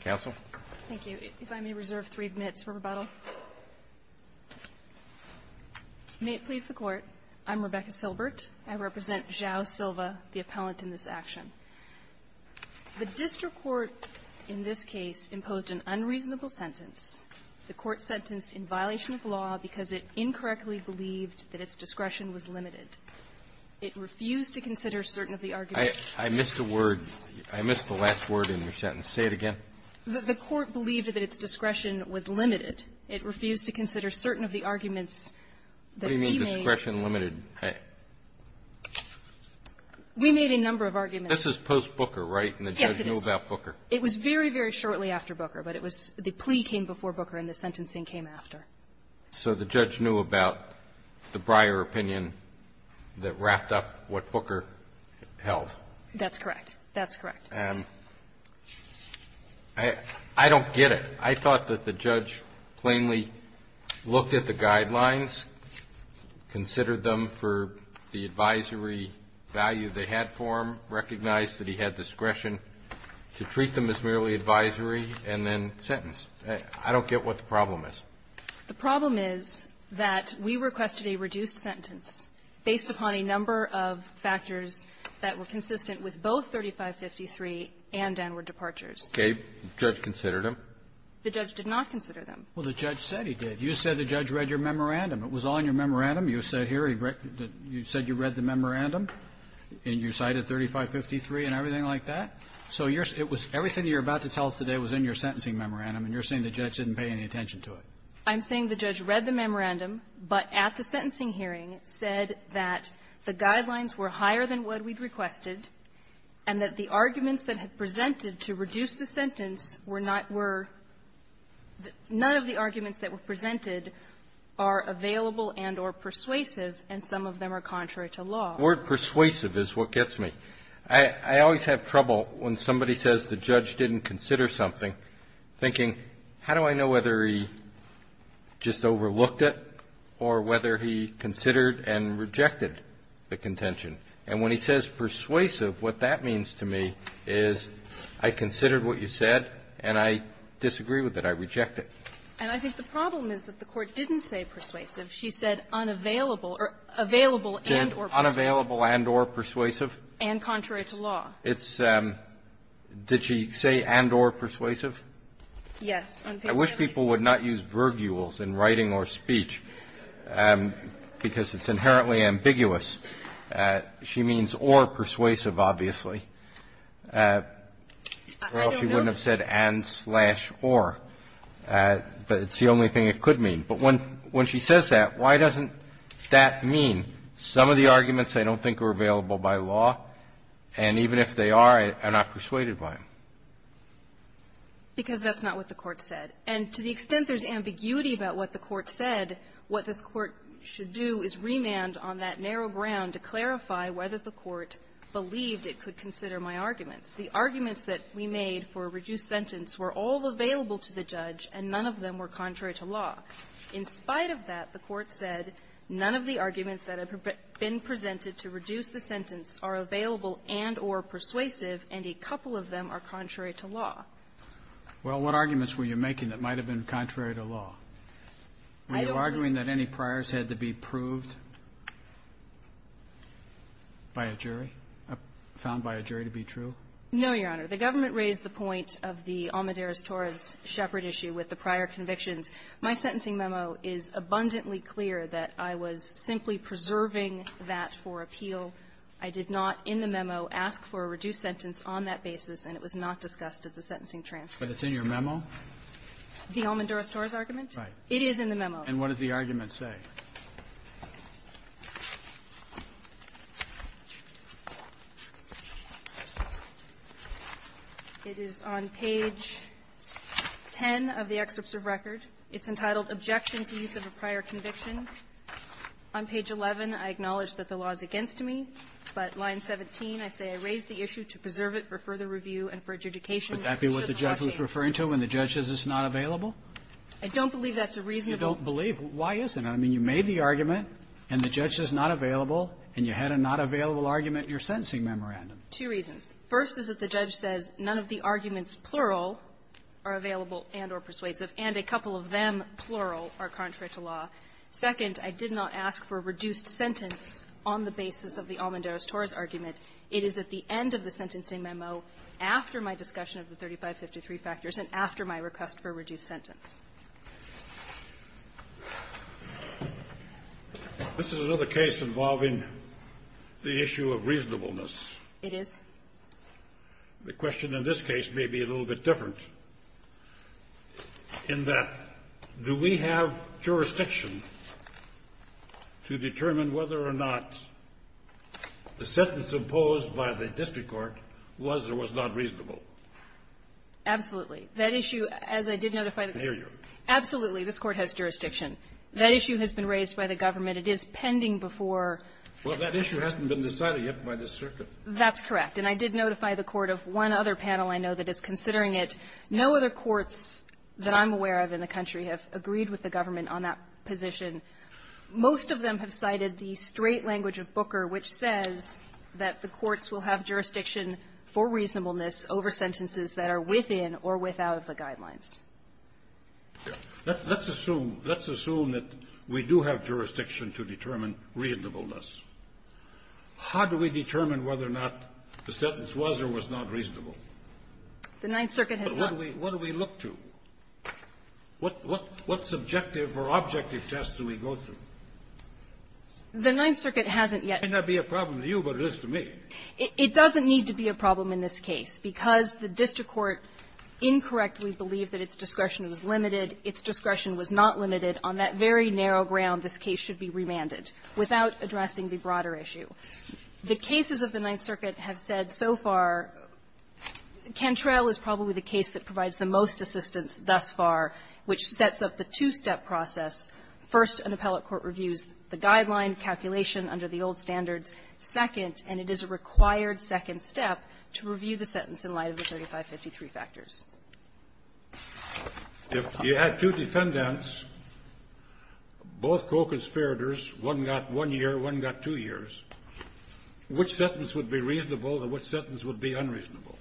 Thank you. If I may reserve three minutes for rebuttal. May it please the Court. I'm Rebecca Silbert. I represent Joao Silva, the appellant in this action. The district court in this case imposed an unreasonable sentence. The court sentenced in violation of law because it incorrectly believed that its discretion was limited. It refused to consider certain of the arguments. I missed a word. I missed the last word in your sentence. Say it again. The court believed that its discretion was limited. It refused to consider certain of the arguments that we made. What do you mean, discretion limited? We made a number of arguments. This is post-Booker, right? And the judge knew about Booker. Yes, it is. It was very, very shortly after Booker. But it was the plea came before Booker, and the sentencing came after. So the judge knew about the Breyer opinion that wrapped up what Booker held. That's correct. That's correct. I don't get it. I thought that the judge plainly looked at the guidelines, considered them for the advisory value they had for him, recognized that he had discretion to treat them as merely advisory, and then sentenced. I don't get what the problem is. The problem is that we requested a reduced sentence based upon a number of factors that were consistent with both 3553 and downward departures. Okay. The judge considered them. The judge did not consider them. Well, the judge said he did. You said the judge read your memorandum. It was on your memorandum. You said here he read the --"you said you read the memorandum, and you cited 3553 and everything like that." So it was everything you're about to tell us today was in your sentencing memorandum, and you're saying the judge didn't pay any attention to it. I'm saying the judge read the memorandum, but at the sentencing hearing said that the guidelines were higher than what we'd requested, and that the arguments that had presented to reduce the sentence were not were the --" none of the arguments that were presented are available and or persuasive, and some of them are contrary to law. The word persuasive is what gets me. I always have trouble when somebody says the judge didn't consider something, thinking, how do I know whether he just overlooked it or whether he considered and rejected the contention? And when he says persuasive, what that means to me is I considered what you said, and I disagree with it. I reject it. And I think the problem is that the Court didn't say persuasive. She said unavailable or available and or persuasive. She said unavailable and or persuasive. And contrary to law. It's --" did she say and or persuasive? Yes. I wish people would not use verbules in writing or speech, because it's inherently ambiguous. She means or persuasive, obviously. I don't know. Or else she wouldn't have said and slash or. But it's the only thing it could mean. But when she says that, why doesn't that mean some of the arguments I don't think were available by law, and even if they are, I'm not persuaded by them? Because that's not what the Court said. And to the extent there's ambiguity about what the Court said, what this Court should do is remand on that narrow ground to clarify whether the Court believed it could consider my arguments. The arguments that we made for a reduced sentence were all available to the judge, and none of them were contrary to law. In spite of that, the Court said none of the arguments that have been presented to reduce the sentence are available and or persuasive, and a couple of them are contrary to law. Well, what arguments were you making that might have been contrary to law? Were you arguing that any priors had to be proved by a jury, found by a jury to be true? No, Your Honor. The government raised the point of the Almedares-Torres-Shepard issue with the prior convictions. My sentencing memo is abundantly clear that I was simply preserving that for appeal. I did not in the memo ask for a reduced sentence on that basis, and it was not discussed at the sentencing transcript. But it's in your memo? The Almedares-Torres argument? Right. It is in the memo. And what does the argument say? It is on page 10 of the excerpts of record. It's entitled, Objection to Use of a Prior Conviction. On page 11, I acknowledge that the law is against me, but line 17, I say I raised the issue to preserve it for further review and for adjudication. Should the motion be? Would that be what the judge was referring to, when the judge says it's not available? I don't believe that's a reasonable ---- You don't believe? Why isn't it? I mean, you made the argument, and the judge says not available, and you had a not available argument in your sentencing memorandum. Two reasons. First is that the judge says none of the arguments, plural, are available and or persuasive. And a couple of them, plural, are contrary to law. Second, I did not ask for a reduced sentence on the basis of the Almedares-Torres argument. It is at the end of the sentencing memo, after my discussion of the 3553 factors and after my request for a reduced sentence. This is another case involving the issue of reasonableness. It is. The question in this case may be a little bit different. In that, do we have jurisdiction to determine whether or not the sentence imposed by the district court was or was not reasonable? Absolutely. That issue, as I did notify the Court ---- Can I hear you? Absolutely. This Court has jurisdiction. That issue has been raised by the government. It is pending before ---- Well, that issue hasn't been decided yet by this circuit. That's correct. And I did notify the Court of one other panel I know that is considering it. No other courts that I'm aware of in the country have agreed with the government on that position. Most of them have cited the straight language of Booker, which says that the courts will have jurisdiction for reasonableness over sentences that are within or without of the guidelines. Let's assume, let's assume that we do have jurisdiction to determine reasonableness. How do we determine whether or not the sentence was or was not reasonable? The Ninth Circuit has not ---- But what do we look to? What subjective or objective tests do we go through? The Ninth Circuit hasn't yet ---- It may not be a problem to you, but it is to me. It doesn't need to be a problem in this case, because the district court incorrectly believed that its discretion was limited, its discretion was not limited. On that very narrow ground, this case should be remanded without addressing the broader issue. The cases of the Ninth Circuit have said so far, Cantrell is probably the case that provides the most assistance thus far, which sets up the two-step process. First, an appellate court reviews the guideline calculation under the old standards. Second, and it is a required second step, to review the sentence in light of the 3553 factors. If you had two defendants, both co-conspirators, one got one year, one got two years, which sentence would be reasonable and which sentence would be unreasonable?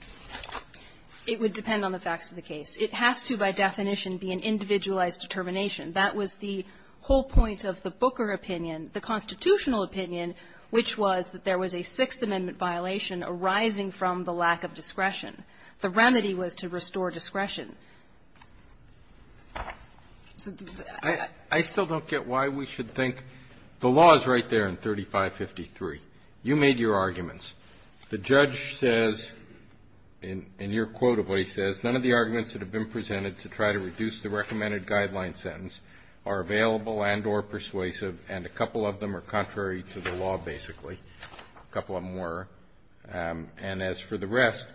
It would depend on the facts of the case. It has to, by definition, be an individualized determination. That was the whole point of the Booker opinion. The constitutional opinion, which was that there was a Sixth Amendment violation arising from the lack of discretion. The remedy was to restore discretion. So the other thing I would say is I still don't get why we should think the law is right there in 3553. You made your arguments. The judge says, in your quote of what he says, none of the arguments that have been presented to try to reduce the recommended guideline sentence are available and or persuasive, and a couple of them are contrary to the law, basically. A couple of them were. And as for the rest,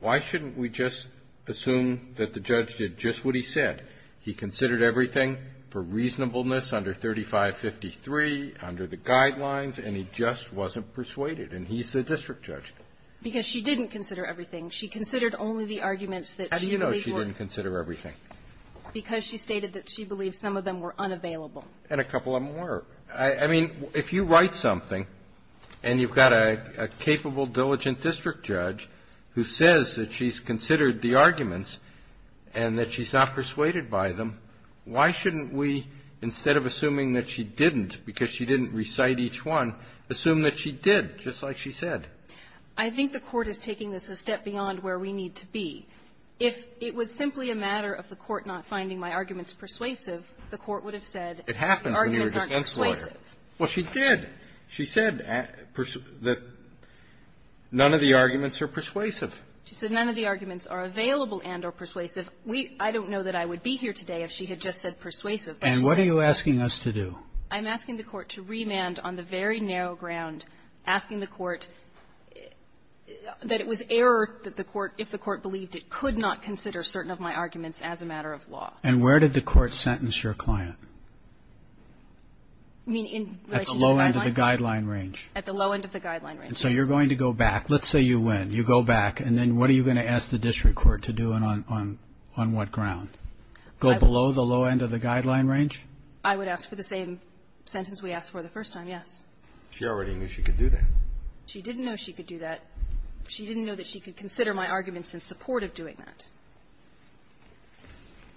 why shouldn't we just assume that the judge did just what he said? He considered everything for reasonableness under 3553, under the guidelines, and he just wasn't persuaded, and he's the district judge. Because she didn't consider everything. She considered only the arguments that she believed were unavailable. How do you know she didn't consider everything? Because she stated that she believed some of them were unavailable. And a couple of them were. I mean, if you write something and you've got a capable, diligent district judge who says that she's considered the arguments and that she's not persuaded by them, why shouldn't we, instead of assuming that she didn't because she didn't recite each one, assume that she did, just like she said? I think the Court is taking this a step beyond where we need to be. If it was simply a matter of the Court not finding my arguments persuasive, the Court would have said the arguments aren't persuasive. Well, she did. She said that none of the arguments are persuasive. She said none of the arguments are available and are persuasive. We don't know that I would be here today if she had just said persuasive. But she said no. And what are you asking us to do? I'm asking the Court to remand on the very narrow ground, asking the Court that it was error that the Court, if the Court believed it, could not consider certain of my arguments as a matter of law. And where did the Court sentence your client? I mean, in relation to the guidelines? At the low end of the guideline range. At the low end of the guideline range. And so you're going to go back. Let's say you win. You go back. And then what are you going to ask the district court to do and on what ground? Go below the low end of the guideline range? I would ask for the same sentence we asked for the first time, yes. She already knew she could do that. She didn't know she could do that. She didn't know that she could consider my arguments in support of doing that.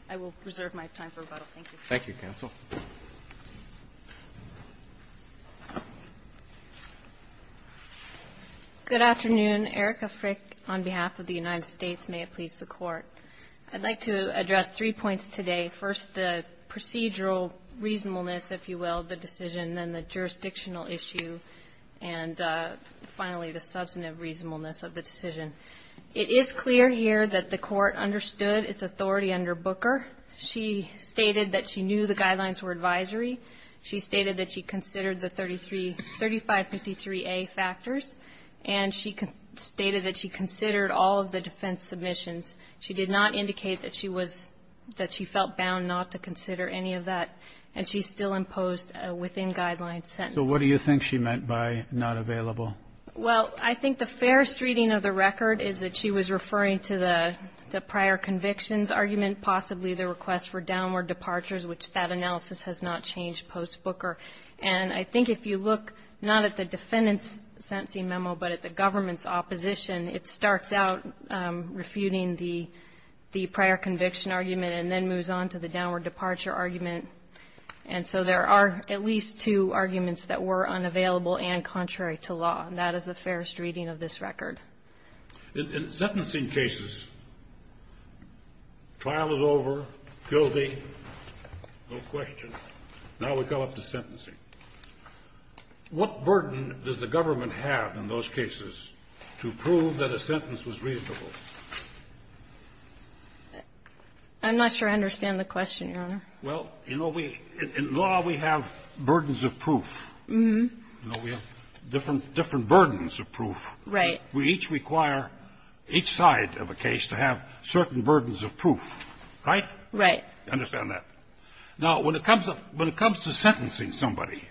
I will reserve my time for rebuttal. Thank you. Thank you, counsel. Good afternoon. Erica Frick on behalf of the United States. May it please the Court. I'd like to address three points today. First, the procedural reasonableness, if you will, of the decision, then the jurisdictional issue, and finally, the substantive reasonableness of the decision. It is clear here that the Court understood its authority under Booker. She stated that she knew the guidelines were advisory. She stated that she considered the 3553A factors. And she stated that she considered all of the defense submissions. She did not indicate that she was – that she felt bound not to consider any of that. And she still imposed a within-guidelines sentence. So what do you think she meant by not available? Well, I think the fairest reading of the record is that she was referring to the prior convictions argument, possibly the request for downward departures, which that analysis has not changed post-Booker. And I think if you look not at the defendant's sentencing memo, but at the government's opposition, it starts out refuting the prior conviction argument and then moves on to the downward departure argument. And so there are at least two arguments that were unavailable and contrary to law. And that is the fairest reading of this record. In sentencing cases, trial is over, guilty, no question. Now we come up to sentencing. What burden does the government have in those cases to prove that a sentence was reasonable? I'm not sure I understand the question, Your Honor. Well, you know, we – in law, we have burdens of proof. Mm-hmm. You know, we have different – different burdens of proof. Right. We each require each side of a case to have certain burdens of proof, right? Right. I understand that. Now, when it comes to – when it comes to sentencing somebody,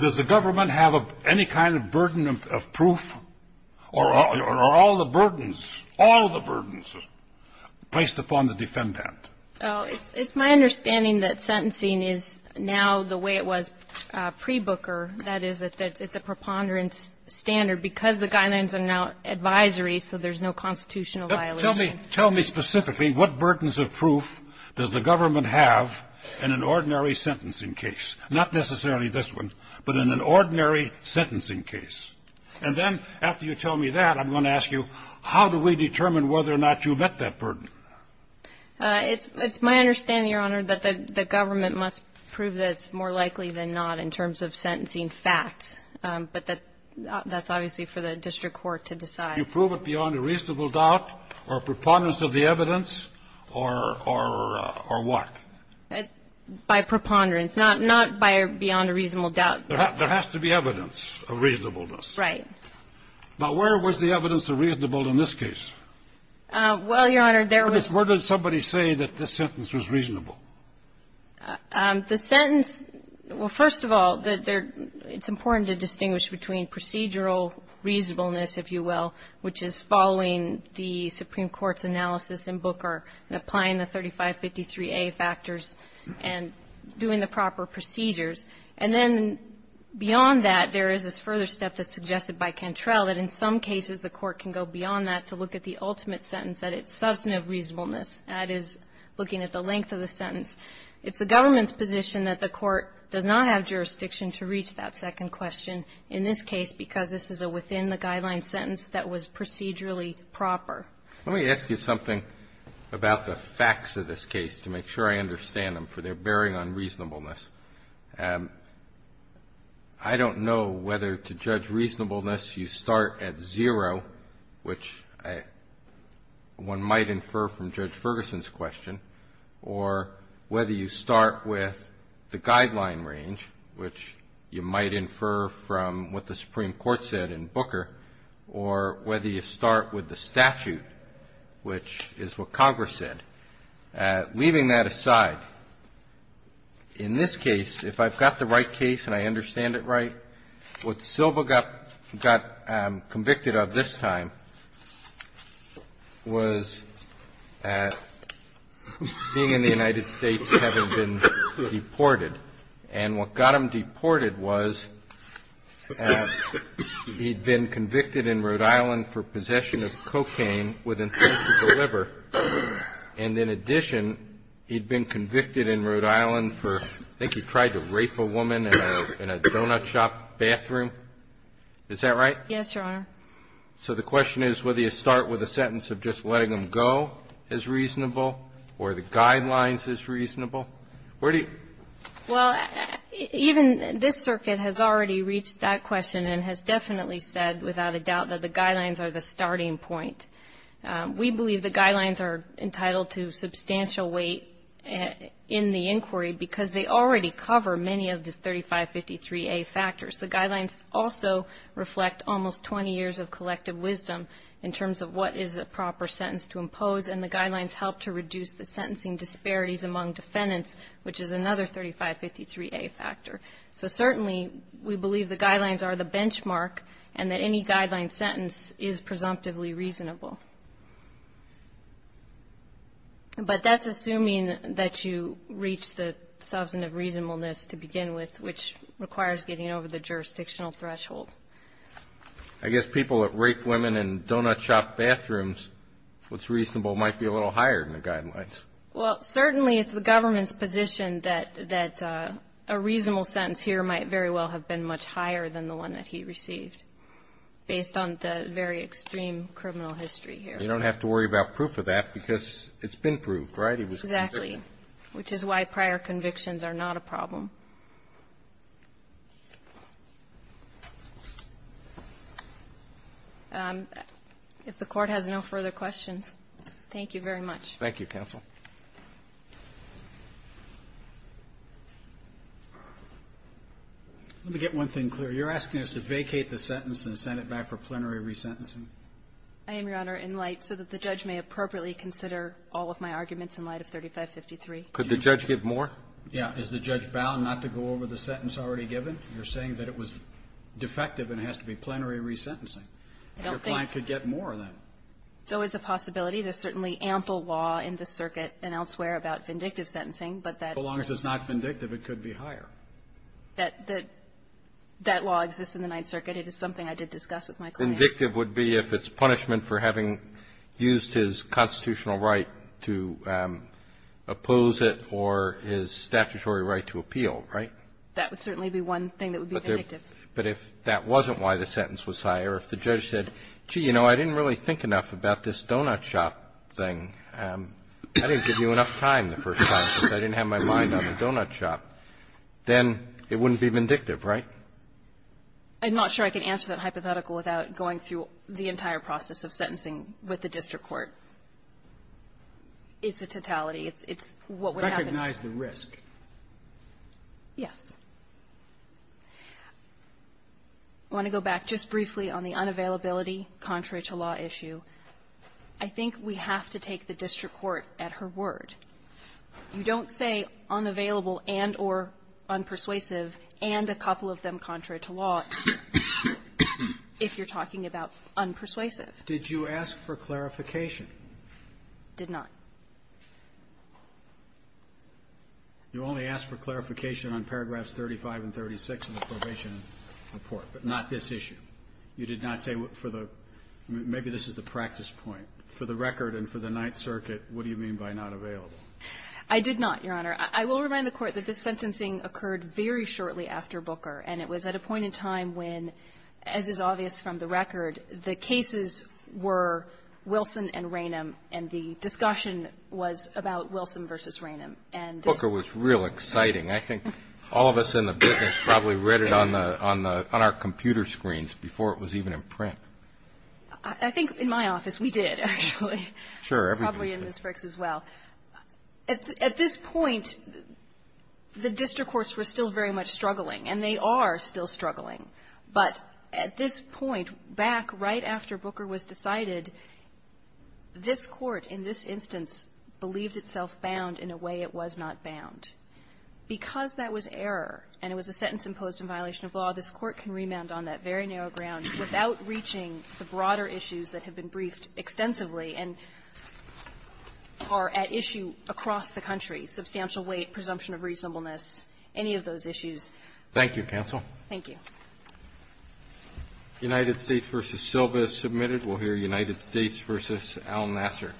does the government have any kind of burden of proof, or are all the burdens, all the burdens, placed upon the defendant? It's my understanding that sentencing is now the way it was pre-Booker, that is, it's the preponderance standard, because the guidelines are now advisory, so there's no constitutional violation. Tell me – tell me specifically what burdens of proof does the government have in an ordinary sentencing case? Not necessarily this one, but in an ordinary sentencing case. And then, after you tell me that, I'm going to ask you, how do we determine whether or not you met that burden? It's my understanding, Your Honor, that the government must prove that it's more than just sentencing facts, but that's obviously for the district court to decide. You prove it beyond a reasonable doubt or preponderance of the evidence, or what? By preponderance, not beyond a reasonable doubt. There has to be evidence of reasonableness. Right. Now, where was the evidence of reasonableness in this case? Well, Your Honor, there was – Where did somebody say that this sentence was reasonable? The sentence – well, first of all, it's important to distinguish between procedural reasonableness, if you will, which is following the Supreme Court's analysis in Booker and applying the 3553A factors and doing the proper procedures. And then beyond that, there is this further step that's suggested by Cantrell that in some cases the court can go beyond that to look at the ultimate sentence that it's substantive reasonableness, that is, looking at the length of the sentence. It's the government's position that the court does not have jurisdiction to reach that second question in this case, because this is a within-the-guideline sentence that was procedurally proper. Let me ask you something about the facts of this case to make sure I understand them, for they're bearing on reasonableness. I don't know whether to judge reasonableness you start at zero, which I don't think one might infer from Judge Ferguson's question, or whether you start with the guideline range, which you might infer from what the Supreme Court said in Booker, or whether you start with the statute, which is what Congress said. Leaving that aside, in this case, if I've got the right case and I understand it right, what Silva got convicted of this time was being in the United States, having been deported. And what got him deported was he'd been convicted in Rhode Island for possession of cocaine with intent to deliver, and in addition, he'd been convicted in Rhode Island of possession of cocaine with intent to deliver. So, the question is, whether you start with a sentence of just letting him go is reasonable, or the guidelines is reasonable? Where do you? Well, even this circuit has already reached that question and has definitely said, without a doubt, that the guidelines are the starting point. We believe the guidelines are entitled to substantial weight in the inquiry, because they already cover many of the 3553A factors. The guidelines also reflect almost 20 years of collective wisdom in terms of what is a proper sentence to impose, and the guidelines help to reduce the sentencing disparities among defendants, which is another 3553A factor. So, certainly, we believe the guidelines are the benchmark, and that any guideline sentence is presumptively reasonable. But that's assuming that you reach the substantive reasonableness to begin with, which requires getting over the jurisdictional threshold. I guess people that rape women in donut shop bathrooms, what's reasonable might be a little higher than the guidelines. Well, certainly, it's the government's position that a reasonable sentence here might very well have been much higher than the one that he received, based on the very extreme criminal history here. You don't have to worry about proof of that, because it's been proved, right? He was convicted. Exactly. Which is why prior convictions are not a problem. If the Court has no further questions, thank you very much. Thank you, counsel. Let me get one thing clear. You're asking us to vacate the sentence and send it back for plenary resentencing? I am, Your Honor, in light so that the judge may appropriately consider all of my arguments in light of 3553. Could the judge give more? Yeah. Is the judge bound not to go over the sentence already given? You're saying that it was defective and it has to be plenary resentencing. Your client could get more of that. So it's a possibility. There's certainly ample law in the circuit and elsewhere about vindictive sentencing, but that's not. As long as it's not vindictive, it could be higher. That law exists in the Ninth Circuit. It is something I did discuss with my client. Vindictive would be if it's punishment for having used his constitutional right to oppose it or his statutory right to appeal, right? That would certainly be one thing that would be vindictive. But if that wasn't why the sentence was higher, if the judge said, gee, you know, I didn't really think enough about this donut shop thing, I didn't give you enough time the first time because I didn't have my mind on the donut shop, then it wouldn't be vindictive, right? I'm not sure I can answer that hypothetical without going through the entire process of sentencing with the district court. It's a totality. It's what would happen. Recognize the risk. Yes. I want to go back just briefly on the unavailability contrary to law issue. I think we have to take the district court at her word. You don't say unavailable and or unpersuasive and a couple of them contrary to law if you're talking about unpersuasive. Did you ask for clarification? Did not. You only asked for clarification on paragraphs 35 and 36 of the probation report, but not this issue. You did not say maybe this is the practice point. For the record and for the Ninth Circuit, what do you mean by not available? I did not, Your Honor. I will remind the Court that this sentencing occurred very shortly after Booker and it was at a point in time when, as is obvious from the record, the cases were Wilson and Ranum and the discussion was about Wilson versus Ranum. Booker was real exciting. I think all of us in the business probably read it on our computer screens. Before it was even in print. I think in my office we did, actually. Sure. Probably in Ms. Frick's as well. At this point, the district courts were still very much struggling and they are still struggling, but at this point, back right after Booker was decided, this Court in this instance believed itself bound in a way it was not bound. Because that was error and it was a sentence imposed in violation of law, this Court can remand on that very narrow ground without reaching the broader issues that have been briefed extensively and are at issue across the country, substantial weight, presumption of reasonableness, any of those issues. Thank you, counsel. Thank you. United States v. Silva is submitted. We'll hear United States v. Al Nasser.